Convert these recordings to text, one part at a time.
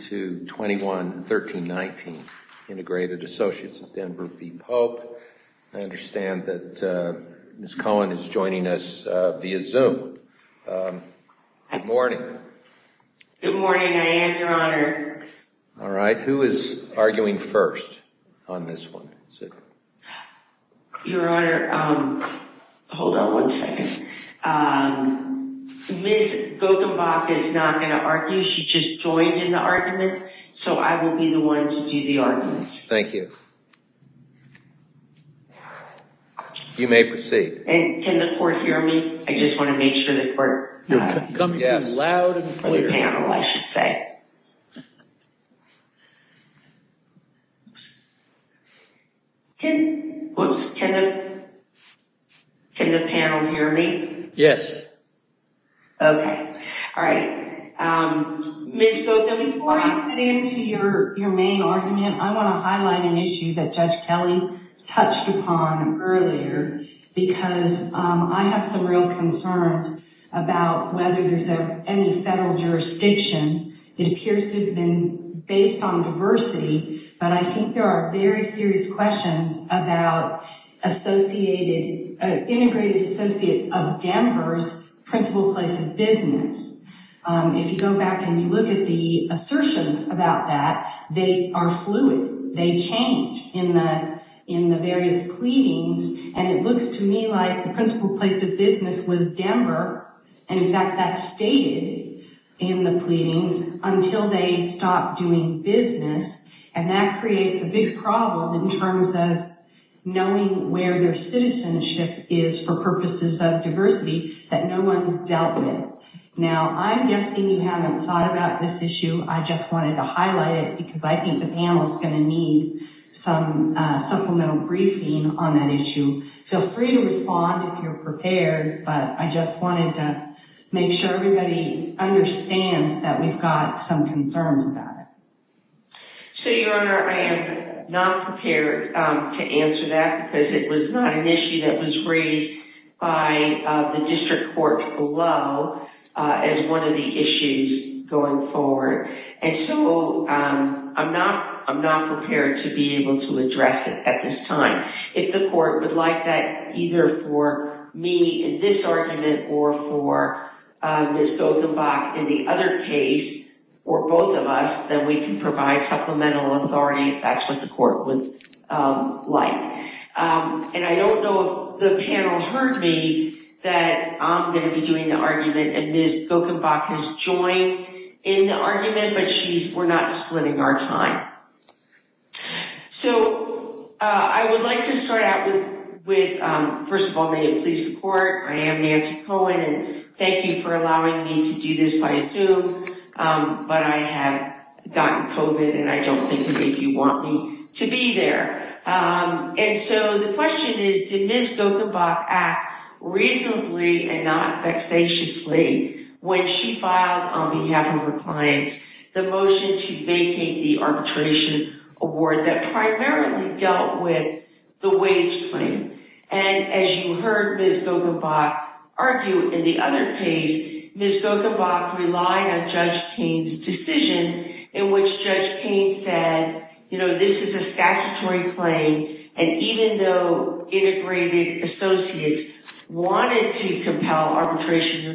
to 21-13-19 Integrated Associates of Denver v Pope. I understand that Ms. Cohen is joining us via Zoom. Good morning. Good morning, I am, Your Honor. Alright, who is arguing first on this one? Your Honor, hold on one second. Ms. Bogenbach is not going to argue, she just joined in the arguments, so I will be the one to do the arguments. Thank you. You may proceed. And can the court hear me? I just want to make sure that we're coming to you panel, I should say. Can the panel hear me? Yes. Okay. Ms. Bogenbach, before you get into your main argument, I want to highlight an issue that Judge Kelly touched upon earlier because I have some real concerns about whether there's any federal jurisdiction. It appears to have been based on diversity, but I think there are very serious questions about Associated, Integrated Associates of Denver's principal place of business. If you go back and you look at the plea, it looks to me like the principal place of business was Denver. In fact, that's stated in the pleadings until they stopped doing business, and that creates a big problem in terms of knowing where their citizenship is for purposes of diversity that no one's dealt with. Now, I'm guessing you haven't thought about this issue. I just wanted to highlight it because I think the respond if you're prepared, but I just wanted to make sure everybody understands that we've got some concerns about it. So, Your Honor, I am not prepared to answer that because it was not an issue that was raised by the district court below as one of the issues going forward, and so I'm not prepared to be able to address it at this time. If the court would like that either for me in this argument or for Ms. Gokenbach in the other case or both of us, then we can provide supplemental authority if that's what the court would like. And I don't know if the panel heard me that I'm going to be doing the argument and Ms. Gokenbach has joined in the argument, but we're not splitting our time. So, I would like to start out with, first of all, may it please the court, I am Nancy Cohen and thank you for allowing me to do this by Zoom, but I have gotten COVID and I don't think if you want me to be there. And so the question is, did Ms. Gokenbach act reasonably and not the arbitration award that primarily dealt with the wage claim? And as you heard Ms. Gokenbach argue in the other case, Ms. Gokenbach relied on Judge Kane's decision in which Judge Kane said, you know, this is a statutory claim and even though integrated associates wanted to compel arbitration.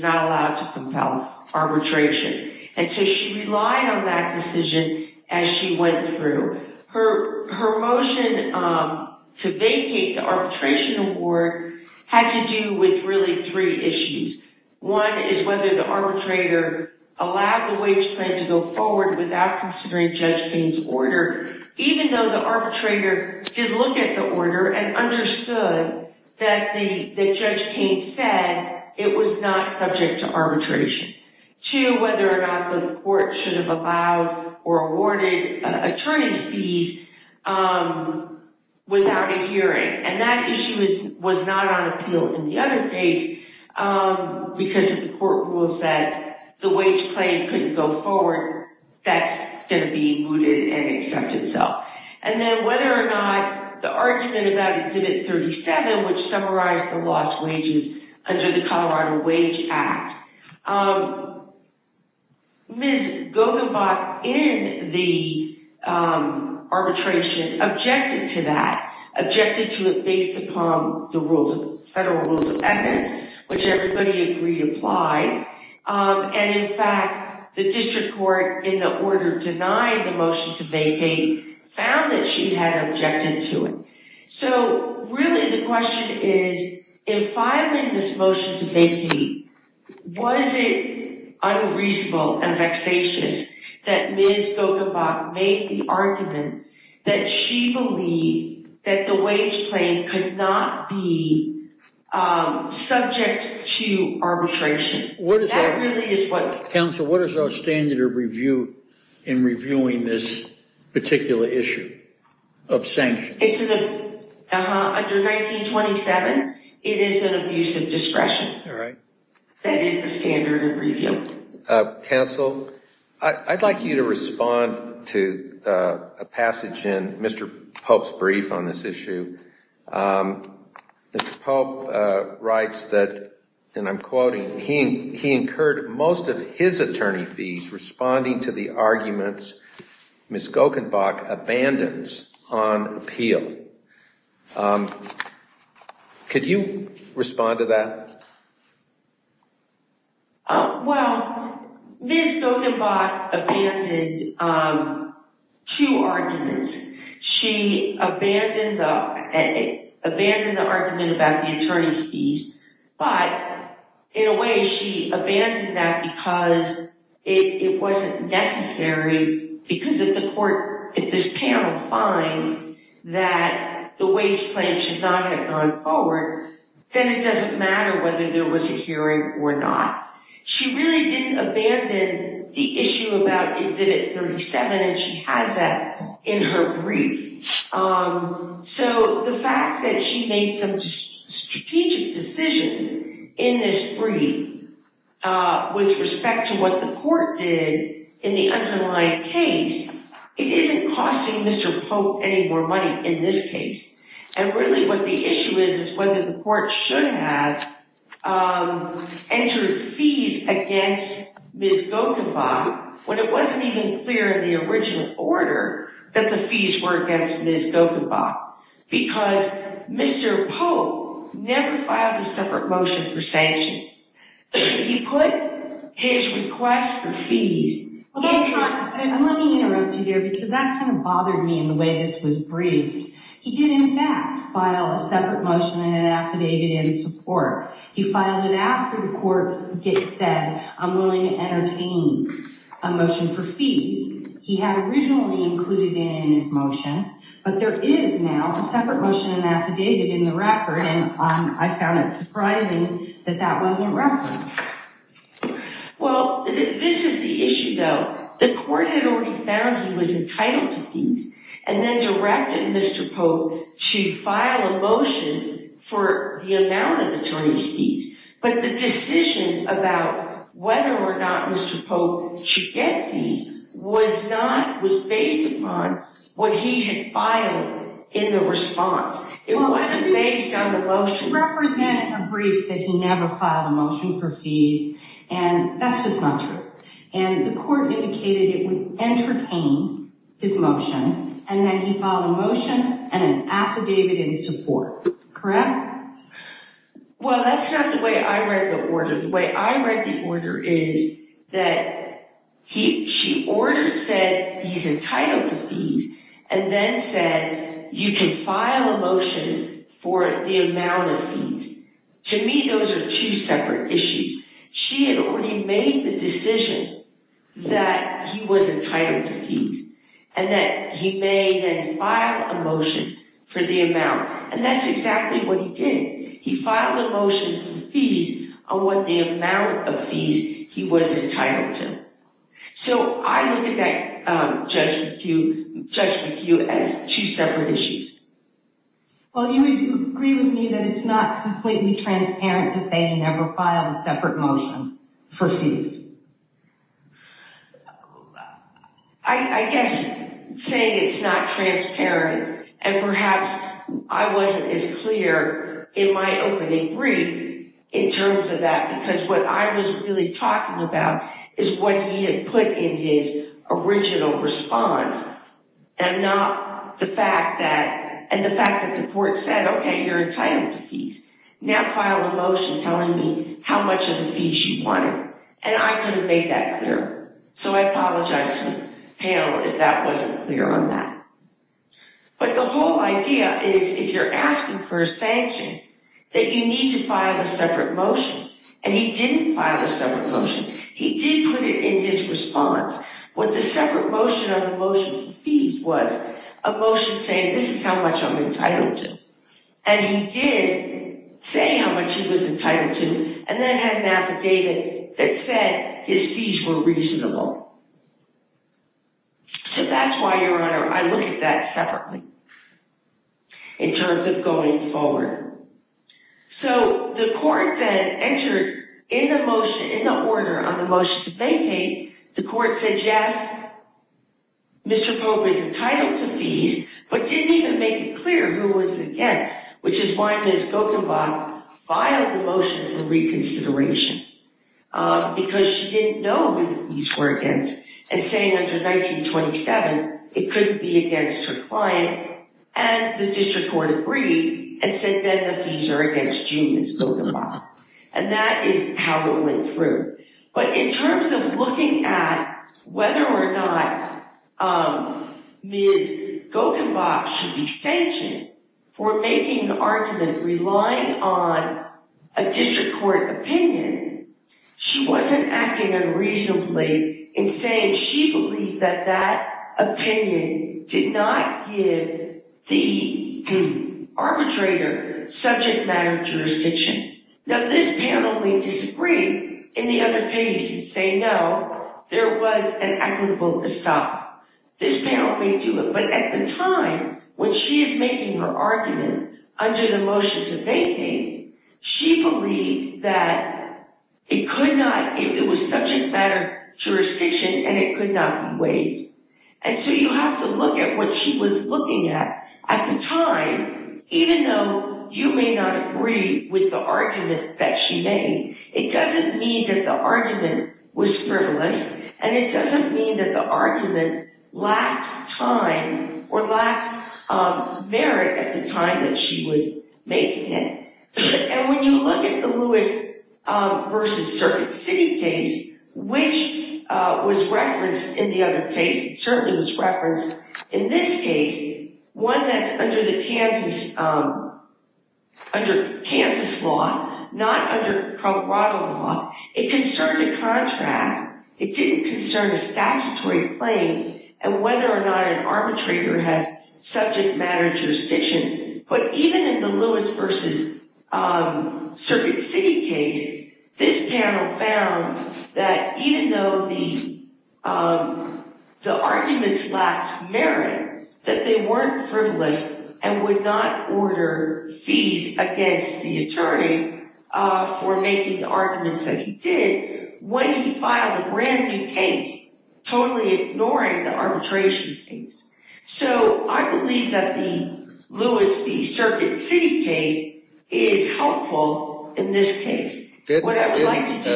And so she relied on that decision as she went through. Her motion to vacate the arbitration award had to do with really three issues. One is whether the arbitrator allowed the wage claim to go forward without considering Judge Kane's order, even though the arbitrator did look at the order and understood that Judge Kane said it was not subject to arbitration. Two, whether or not the court should have allowed or awarded attorney's fees without a hearing. And that issue was not on appeal in the other case because if the court rules that the wage claim couldn't go forward, that's going to be mooted and accept itself. And then whether or not the argument about Exhibit 37, which summarized the lost wages under the Colorado Wage Act. Ms. Gokenbach in the arbitration objected to that, objected to it based upon the rules, federal rules of evidence, which everybody agreed applied. And in fact, the district court in the order denied the motion to vacate found that she had objected to it. So really the question is, in filing this motion to vacate, was it unreasonable and vexatious that Ms. Gokenbach made the argument that she believed that the wage claim could not be subject to arbitration? That really is what... reviewing this particular issue of sanctions. Under 1927, it is an abuse of discretion. That is the standard of review. Counsel, I'd like you to respond to a passage in Mr. Pope's brief on this issue. Mr. Pope writes that, and I'm quoting, he incurred most of his attorney fees responding to the arguments Ms. Gokenbach abandons on appeal. Could you respond to that? Well, Ms. Gokenbach abandoned two arguments. She abandoned the argument about the attorney's fees, but in a way she abandoned that because it wasn't necessary because if the court, if this panel finds that the wage claim should not have gone forward, then it doesn't matter whether there was a hearing or not. She really didn't abandon the issue about Exhibit 37, and she has that in her brief. So the fact that she made some strategic decisions in this brief with respect to what the court did in the underlying case, it isn't costing Mr. Pope any more money in this case. And really what the issue is, is whether the court should have entered fees against Ms. Gokenbach when it wasn't even clear in the original order that the fees were against Ms. Gokenbach. Because Mr. Pope never filed a separate motion for sanctions. He put his request for fees... Let me interrupt you here because that kind of bothered me in the way this was briefed. He did in fact file a separate motion in an affidavit in support. He filed it after the court said, I'm willing to entertain a motion for fees. He had originally included it in his motion, but there is now a separate motion in an affidavit in the record, and I found it surprising that that wasn't referenced. Well, this is the issue though. The court had already found he was entitled to fees and then directed Mr. Pope to file a motion for the amount of attorney's fees. But the decision about whether or not Mr. Pope should get fees was based upon what he had filed in the response. It wasn't based on the motion. It represents a brief that he never filed a motion for fees, and that's just not true. And the court indicated it would entertain his motion, and then he filed a motion and an affidavit in support. Correct? Well, that's not the way I read the order. The way I read the order is that she ordered, said he's entitled to fees, and then said you can file a motion for the amount of fees. To me, those are two separate issues. She had already made the decision that he was entitled to fees and that he may then file a motion for the amount, and that's exactly what he did. He filed a motion for fees on what the amount of fees he was entitled to. So I look at that judgment cue as two separate issues. Well, you would agree with me that it's not completely transparent to say he never filed a separate motion for fees. I guess saying it's not transparent and perhaps I wasn't as clear in my opening brief in terms of that because what I was really talking about is what he had put in his original response and not the fact that, and the fact that the court said, okay, you're entitled to fees. Now file a motion telling me how much of the fees you wanted, and I couldn't make that clear. So I apologize to Hale if that wasn't clear on that. But the whole idea is if you're asking for a sanction, that you need to file a separate motion, and he didn't file a separate motion. He did put it in his response. What the separate motion on the motion for fees was a motion saying this is how much I'm entitled to, and he did say how much he was entitled to and then had an affidavit that said his fees were reasonable. So that's why, Your Honor, I look at that separately in terms of going forward. So the court then entered in the order on the motion to vacate, the court said yes, Mr. Pope is entitled to fees, but didn't even make it clear who was against, which is why Ms. Gokenbach filed the motion for reconsideration, because she didn't know who the fees were against, and saying under 1927, it couldn't be against her client, and the district court agreed and said then the fees are against you, Ms. Gokenbach, and that is how it went through. But in terms of looking at whether or not Ms. Gokenbach should be sanctioned for making an argument relying on a district court opinion, she wasn't acting unreasonably in saying she believed that that opinion did not give the arbitrator subject matter jurisdiction. Now this panel may disagree in the other case and say no, there was an equitable to stop. This panel may do it, but at the time when she is making her argument under the motion to vacate, she believed that it could not, it was subject matter jurisdiction and it could not be waived. And so you have to look at what she was looking at at the time, even though you may not agree with the argument that she made, it doesn't mean that the argument was frivolous, and it doesn't mean that the argument lacked time or lacked merit at the time that she was making it. And when you look at the Lewis versus Circuit City case, which was referenced in the other case, it certainly was referenced in this case, one that's under Kansas law, not under Colorado law. It concerned a contract, it didn't concern a statutory claim and whether or not an arbitrator has subject matter jurisdiction. But even in the Lewis versus Circuit City case, this panel found that even though the arguments lacked merit, that they weren't frivolous and would not order fees against the attorney for making the arguments that he did when he filed a brand new case, totally ignoring the arbitration case. So I believe that the Lewis v. Circuit City case is helpful in this case. What I would like to do...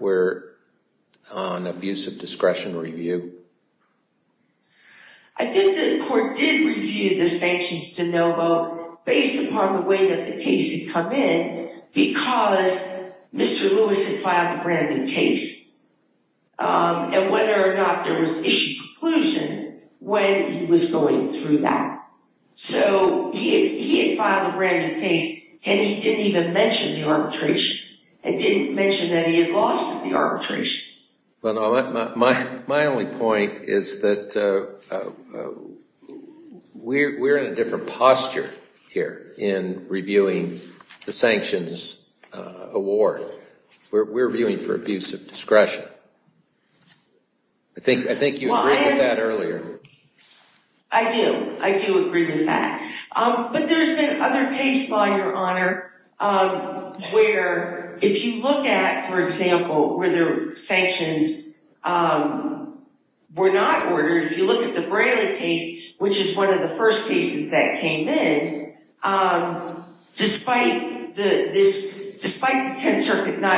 We're on abuse of discretion review. I think that the court did review the sanctions de novo based upon the way that the case had come in because Mr. Lewis had filed a brand new case and whether or not there was issue conclusion when he was going through that. So he had filed a brand new case and he didn't even mention the arbitration. He didn't mention that he had lost the arbitration. My only point is that we're in a different posture here in reviewing the sanctions award. We're viewing for abuse of discretion. I think you agreed with that earlier. I do. I do agree with that. But there's been other case law, Your Honor, where if you look at, for example, where the sanctions were not ordered, if you look at the Braley case, which is one of the first cases that came in, despite the Tenth Circuit not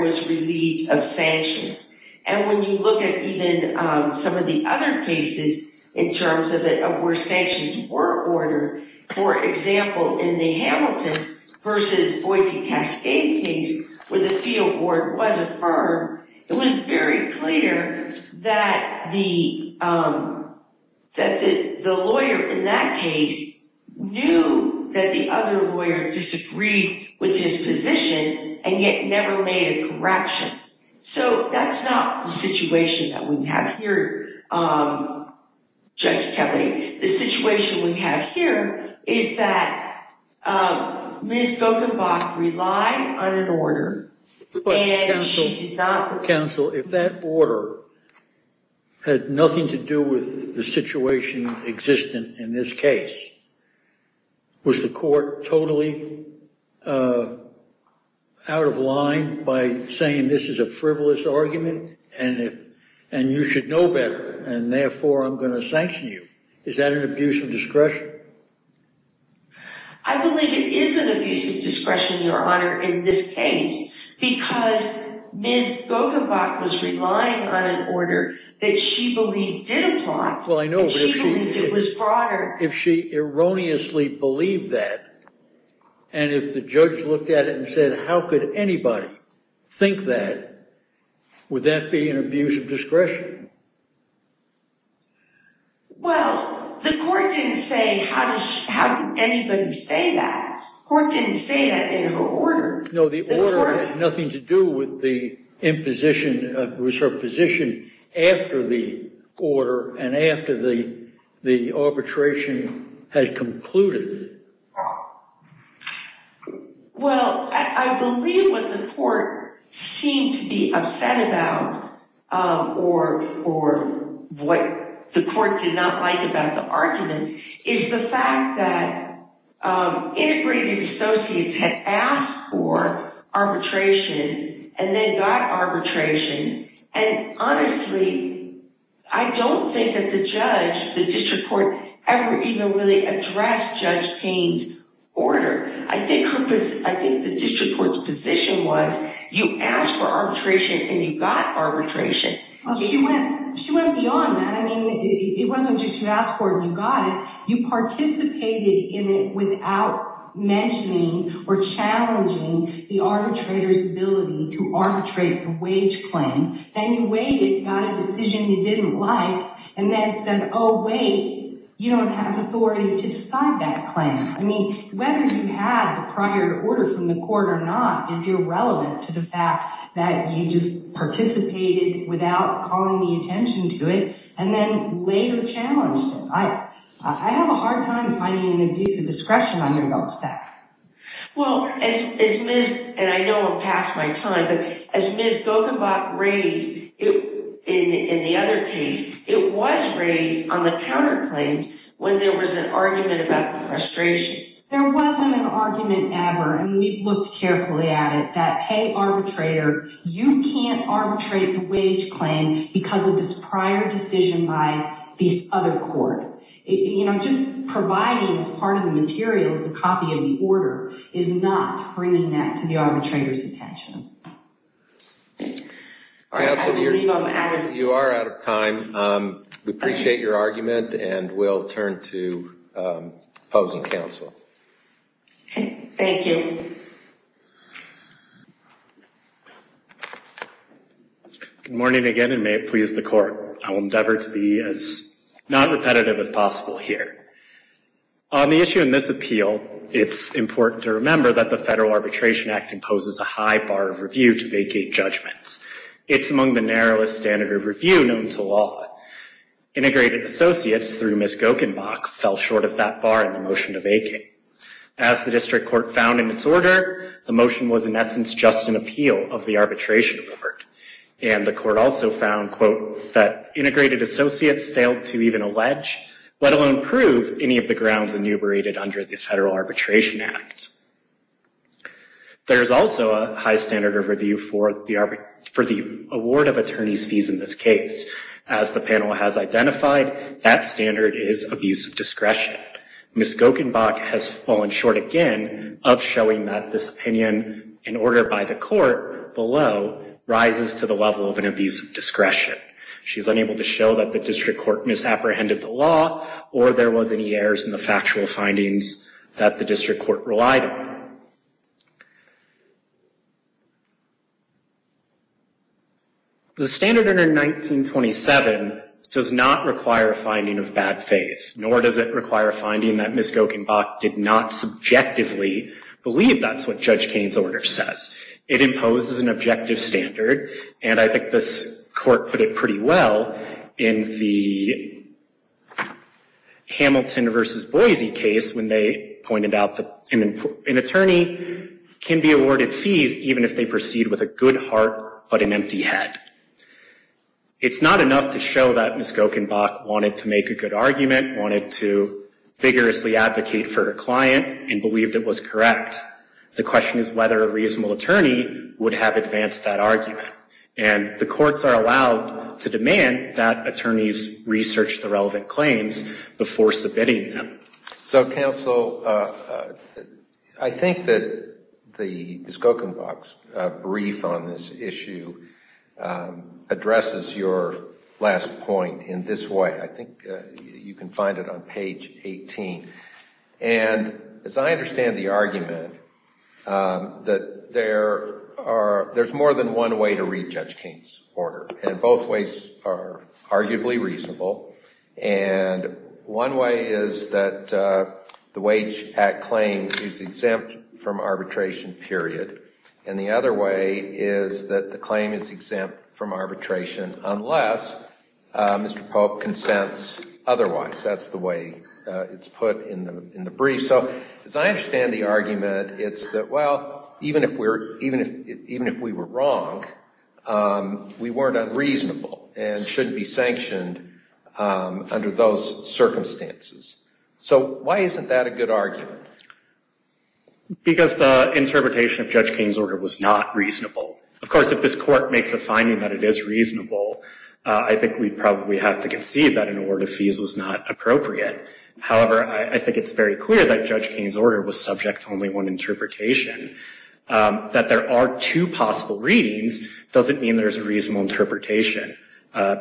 was relieved of sanctions. And when you look at even some of the other cases in terms of where sanctions were ordered, for example, in the Hamilton v. Boise Cascade case where the field board was affirmed, it was very clear that the lawyer in that case knew that the other lawyer disagreed with his position and yet never made a correction. So that's not the situation that we have here, Judge Kelly. The situation we have here is that Ms. Gokenbach relied on an order. Counsel, if that order had nothing to do with the situation existing in this case, was the court totally out of line by saying this is a frivolous argument and you should know better and therefore I'm going to sanction you? Is that an abuse of discretion? I believe it is an abuse of discretion, Your Honor, in this case because Ms. Gokenbach was relying on an order that she believed did apply. Well, I know, but if she erroneously believed that and if the judge looked at it and said how could anybody think that, would that be an abuse of discretion? Well, the court didn't say how did anybody say that. The court didn't say that in her order. No, the order had nothing to do with the imposition, it was her position after the order and after the arbitration had concluded. Well, I believe what the court seemed to be upset about or what the court did not like about the argument is the fact that the Associates had asked for arbitration and then got arbitration and honestly, I don't think that the judge, the district court, ever even really addressed Judge Payne's order. I think the district court's position was you asked for arbitration and you got arbitration. Well, she went beyond that. I mean, it wasn't just you asked for it and you got it. You participated in it without mentioning or challenging the arbitrator's ability to arbitrate the wage claim. Then you waited, got a decision you didn't like and then said, oh wait, you don't have authority to decide that claim. I mean, whether you had the prior order from the court or not is irrelevant to the fact that you just participated without calling the attention to it and then later challenged it. I have a hard time finding an indecisive discretion under those facts. Well, as Ms., and I know I'm past my time, but as Ms. Gogenbach raised in the other case, it was raised on the counterclaims when there was an argument about the frustration. There wasn't an argument ever and we've looked carefully at it that, hey arbitrator, you can't arbitrate the wage claim because of this prior decision by this other court. Just providing as part of the materials a copy of the order is not bringing that to the arbitrator's attention. You are out of time. We appreciate your argument and we'll turn to opposing counsel. Thank you. Good morning again and may it please the court. I will endeavor to be as non-repetitive as possible here. On the issue in this appeal, it's important to remember that the Federal Arbitration Act imposes a high bar of review to vacate judgments. It's among the narrowest standard of review known to law. Integrated Associates through Ms. Gogenbach fell short of that bar in the motion to vacate. As the District Court found in its order, the motion was in essence just an appeal of the Arbitration Court and the court also found, quote, that Integrated Associates failed to even allege, let alone prove, any of the grounds enumerated under the Federal Arbitration Act. There is also a high standard of review for the award of attorney's fees in this case. As the panel has identified, that standard is abuse of discretion. Ms. Gogenbach has fallen short again of showing that this opinion, in order by the court below, rises to the level of an abuse of discretion. She's unable to show that the District Court misapprehended the law or there was any errors in the factual findings that the District Court relied on. The standard in 1927 does not require a finding of bad faith, nor does it require a finding that Ms. Gogenbach did not subjectively believe that's what Judge Kane's order says. It imposes an objective standard, and I think this court put it pretty well in the Hamilton v. Boise case when they pointed out that an attorney can be awarded fees even if they proceed with a good heart, but an empty head. It's not enough to show that Ms. Gogenbach wanted to make a good argument, wanted to vigorously advocate for her client, and believed it was correct. The question is whether a reasonable attorney would have advanced that argument, and the courts are allowed to I think that Ms. Gogenbach's brief on this issue addresses your last point in this way. I think you can find it on page 18, and as I understand the argument, that there's more than one way to prove that the Wage Act claim is exempt from arbitration, period, and the other way is that the claim is exempt from arbitration unless Mr. Pope consents otherwise. That's the way it's put in the brief. So as I understand the argument, it's that, well, even if we were wrong, we weren't unreasonable and shouldn't be sanctioned under those circumstances. So why isn't that a good argument? Because the interpretation of Judge King's order was not reasonable. Of course, if this court makes a finding that it is reasonable, I think we probably have to concede that an award of fees was not appropriate. However, I think it's very clear that Judge King's order was subject to only one interpretation. That there are two possible readings doesn't mean there's a reasonable interpretation.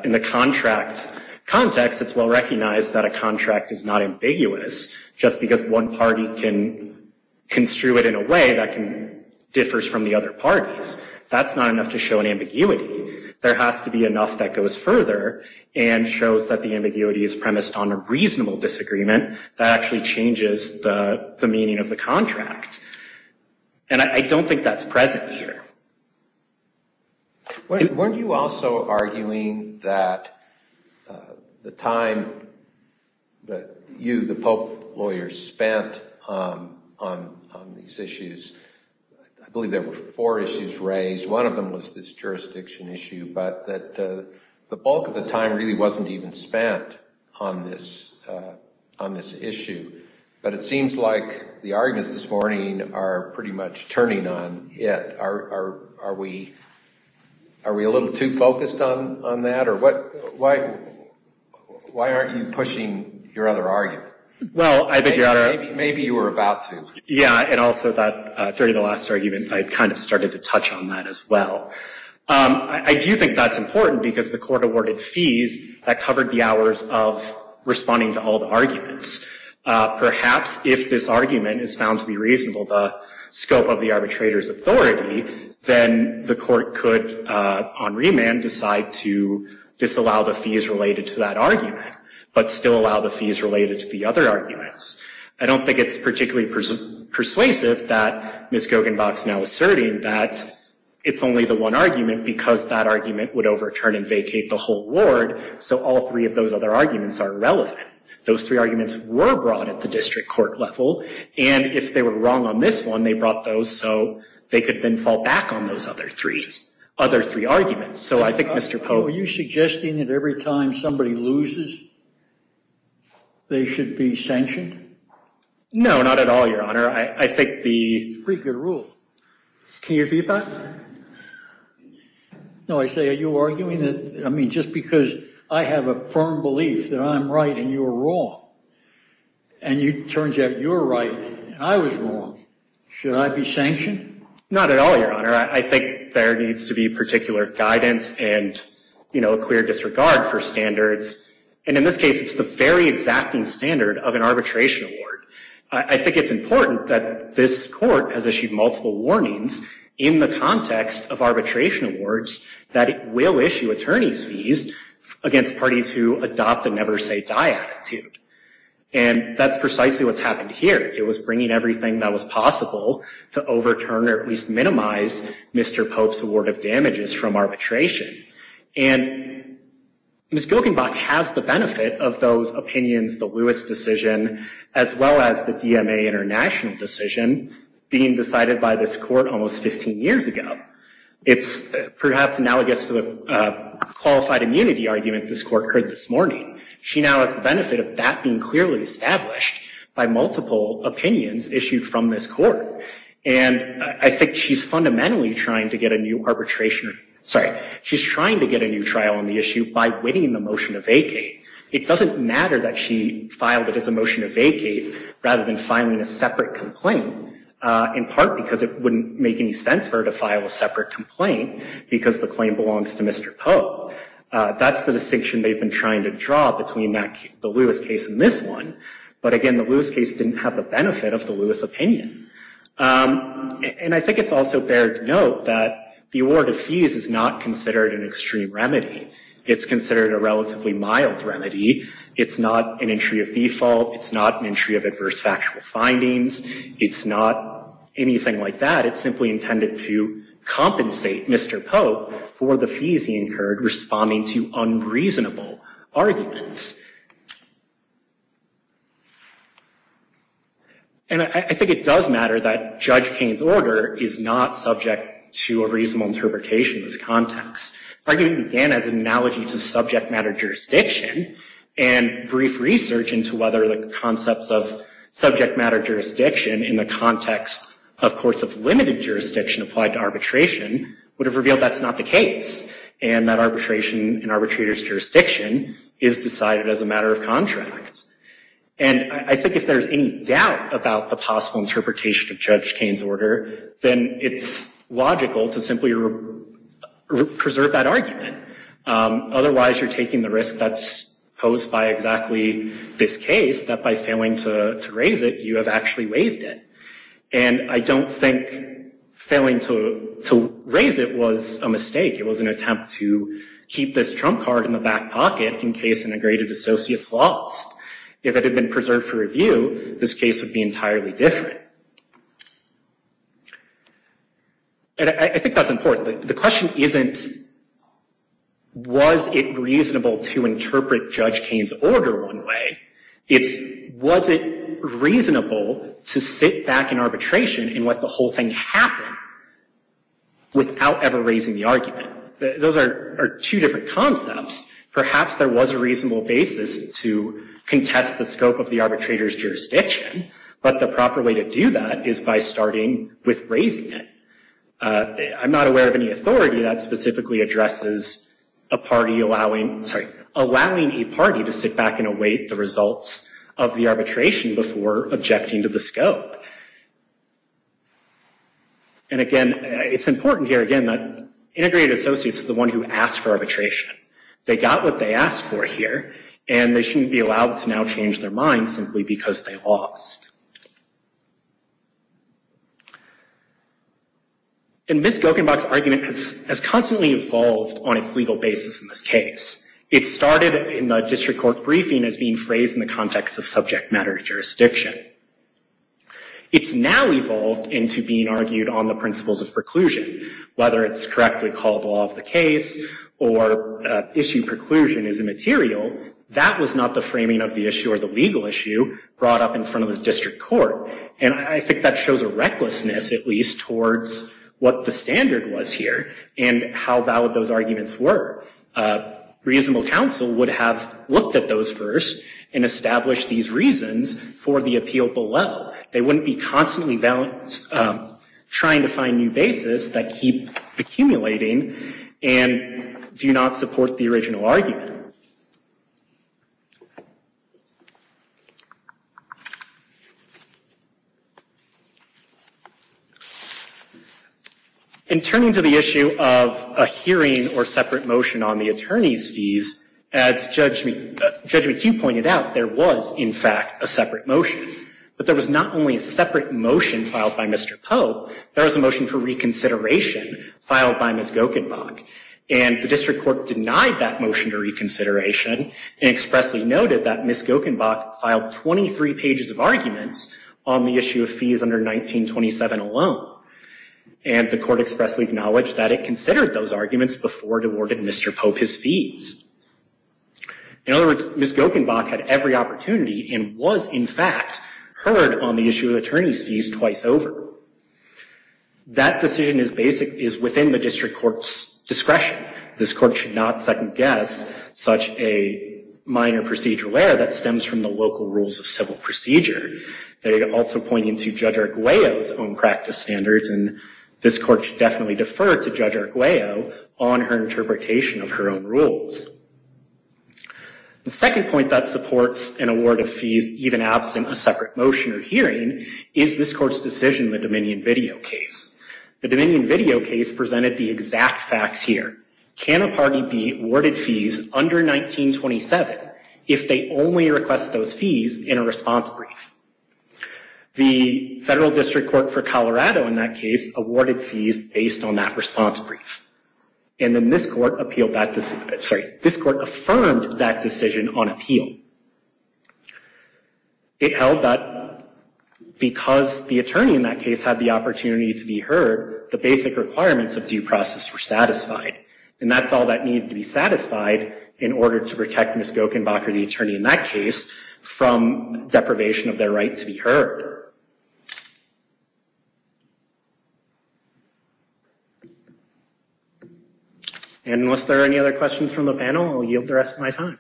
In the contract context, it's well recognized that a contract is not ambiguous just because one party can construe it in a way that can differs from the other parties. That's not enough to show an ambiguity. There has to be enough that goes further and shows that the and I don't think that's present here. Weren't you also arguing that the time that you, the Pope lawyer, spent on these issues, I believe there were four issues raised. One of them was this jurisdiction issue, but that the bulk of the time really wasn't even spent on this issue. But it seems like the arguments this morning are pretty much turning on it. Are we a little too focused on that? Why aren't you pushing your other argument? Maybe you were about to. Yeah, and also that during the last argument, I kind of started to touch on that as well. I do think that's important because the court awarded fees that covered the hours of responding to all the arguments. Perhaps if this argument is found to be reasonable, the scope of the arbitrator's authority, then the court could on remand decide to disallow the fees related to that argument, but still allow the fees related to the other arguments. I don't think it's particularly persuasive that Ms. Gogenbach is now asserting that it's only the one argument because that argument would overturn and vacate the whole ward. So all three of those other Those three arguments were brought at the district court level, and if they were wrong on this one, they brought those so they could then fall back on those other three arguments. So I think Mr. Pope... Are you suggesting that every time somebody loses, they should be sanctioned? No, not at all, Your Honor. I think the... It's a pretty good rule. Can you repeat that? No, I say, are you arguing that, I mean, just because I have a firm belief that I'm right and you're wrong, and it turns out you're right and I was wrong, should I be sanctioned? Not at all, Your Honor. I think there needs to be particular guidance and, you know, clear disregard for standards. And in this case, it's the very exacting standard of an arbitration award. I think it's important that this court has issued multiple warnings in the context of arbitration awards that it will issue attorney's fees against parties who adopt a never say die attitude. And that's precisely what's happened here. It was bringing everything that was possible to overturn or at least minimize Mr. Pope's award of damages from arbitration. And Ms. Gilkenbach has the benefit of those opinions, the Lewis decision, as well as the it's perhaps analogous to the qualified immunity argument this court heard this morning. She now has the benefit of that being clearly established by multiple opinions issued from this court. And I think she's fundamentally trying to get a new arbitration, sorry, she's trying to get a new trial on the issue by winning the motion to vacate. It doesn't matter that she filed it as a motion to vacate rather than filing a separate complaint, in part because it wouldn't make any sense for her to file a separate complaint because the claim belongs to Mr. Pope. That's the distinction they've been trying to draw between the Lewis case and this one. But again, the Lewis case didn't have the benefit of the Lewis opinion. And I think it's also bear to note that the award of fees is not considered an extreme remedy. It's considered a relatively mild remedy. It's not an entry of default. It's not an entry of It's simply intended to compensate Mr. Pope for the fees he incurred responding to unreasonable arguments. And I think it does matter that Judge Kane's order is not subject to a reasonable interpretation of this context. Argument began as an analogy to subject matter jurisdiction and brief research into whether the concepts of subject matter jurisdiction in the context of courts of limited jurisdiction applied to arbitration would have revealed that's not the case. And that arbitration and arbitrator's jurisdiction is decided as a matter of contract. And I think if there's any doubt about the possible interpretation of Judge Kane's order, then it's logical to simply preserve that argument. Otherwise, you're taking the risk that's posed by exactly this case that by failing to raise it, you have actually waived it. And I don't think failing to raise it was a mistake. It was an attempt to keep this trump card in the back pocket in case integrated associates lost. If it had been preserved for review, this case would be entirely different. And I think that's important. The question isn't was it reasonable to interpret Judge Kane's order one way? It's was it reasonable to sit back in arbitration and let the whole thing happen without ever raising the argument? Those are two different concepts. Perhaps there was a reasonable basis to contest the scope of the arbitrator's jurisdiction, but the proper way to do that is by starting with raising it. I'm not aware of any authority that specifically addresses a party allowing, sorry, allowing a party to sit back and await the results of the arbitration before objecting to the scope. And again, it's important here, again, that integrated associates is the one who asked for arbitration. They got what they asked for here, and they shouldn't be allowed to now change their minds simply because they lost. And Ms. Gokenbach's argument has constantly evolved on its legal basis in this case. It started in the district court briefing as being phrased in the context of subject matter jurisdiction. It's now evolved into being argued on the principles of preclusion, whether it's correctly called law of the case or issue preclusion is immaterial. That was not the framing of the issue or the legal issue brought up in front of the district court. And I think that shows a recklessness, at least, towards what the standard was here and how valid those reasonable counsel would have looked at those first and established these reasons for the appeal below. They wouldn't be constantly trying to find new basis that keep accumulating and do not support the original argument. In turning to the issue of a hearing or separate motion on the attorney's fees, as Judge McHugh pointed out, there was, in fact, a separate motion. But there was not only a separate motion filed by Mr. Poe, there was a motion for reconsideration filed by Ms. Gokenbach. And the district court denied that motion to reconsideration and expressly noted that Ms. Gokenbach filed 23 pages of arguments on the issue of fees under 1927 alone. And the court expressly acknowledged that it considered those arguments before it awarded Mr. Poe his fees. In other words, Ms. Gokenbach had every opportunity and was, in fact, heard on the issue attorney's fees twice over. That decision is within the district court's discretion. This court should not second guess such a minor procedural error that stems from the local rules of civil procedure. They're also pointing to Judge Arguello's own practice standards and this court should definitely defer to Judge Arguello on her interpretation of her own rules. The second point that supports an award of fees even absent a separate motion or hearing is this court's decision in the Dominion video case. The Dominion video case presented the exact facts here. Can a party be awarded fees under 1927 if they only request those fees in a response brief? The federal district court for Colorado in that case awarded fees based on that response brief. And then this court appealed that, sorry, this court affirmed that decision on appeal. It held that because the attorney in that case had the opportunity to be heard, the basic requirements of due process were satisfied. And that's all that needed to be satisfied in order to protect Ms. Gokenbach or the attorney in that case from deprivation of their right to be heard. And unless there are any other questions from the panel, I'll yield the rest of my time.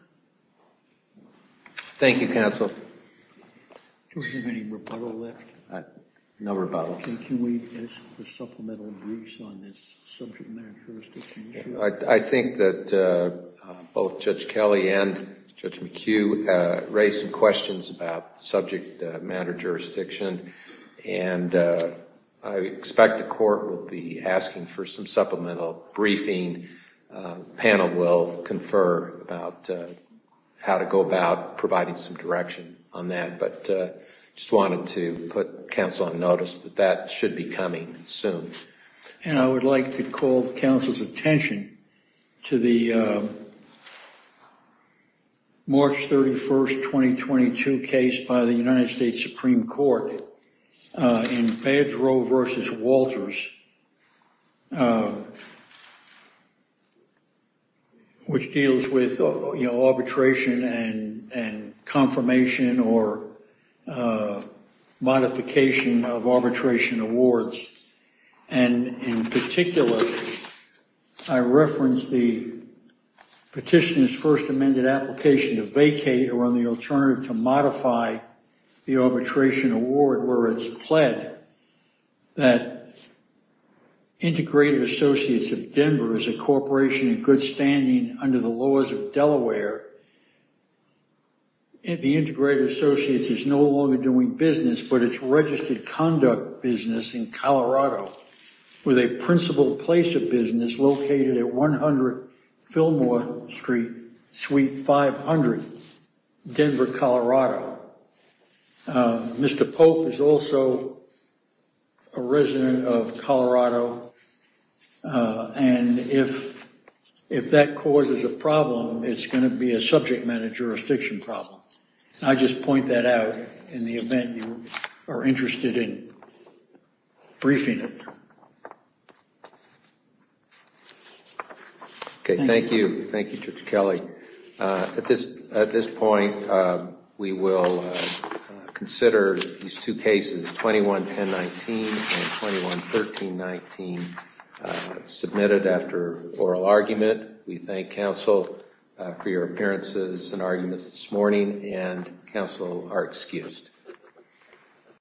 Thank you, counsel. Do we have any rebuttal left? No rebuttal. Can we ask for supplemental briefs on this subject matter jurisdiction? I think that both Judge Kelly and Judge McHugh raised some questions about subject matter jurisdiction. And I expect the court will be asking for some supplemental briefing. The panel will confer about how to go about providing some direction on that. But I just wanted to put counsel on notice that that and I would like to call counsel's attention to the March 31st, 2022 case by the United States Supreme Court in Badger v. Walters, which deals with, you know, arbitration and confirmation or modification of arbitration awards. And in particular, I referenced the petitioner's first amended application to vacate or on the alternative to modify the arbitration award where it's pled that Integrated Associates of Denver is a corporation in good standing under the laws of Delaware. The Integrated Associates is no longer doing business, but it's registered conduct business in Colorado with a principal place of business located at 100 Fillmore Street, Suite 500, Denver, Colorado. Mr. Pope is also a resident of Colorado. And if that causes a problem, it's going to be a subject matter jurisdiction problem. I just point that out in the event you are interested in briefing it. Okay, thank you. Thank you, Judge Kelly. At this point, we will consider these two cases, 21-1019 and 21-1319, submitted after oral argument. We thank counsel for your appearances and arguments this morning and counsel are excused.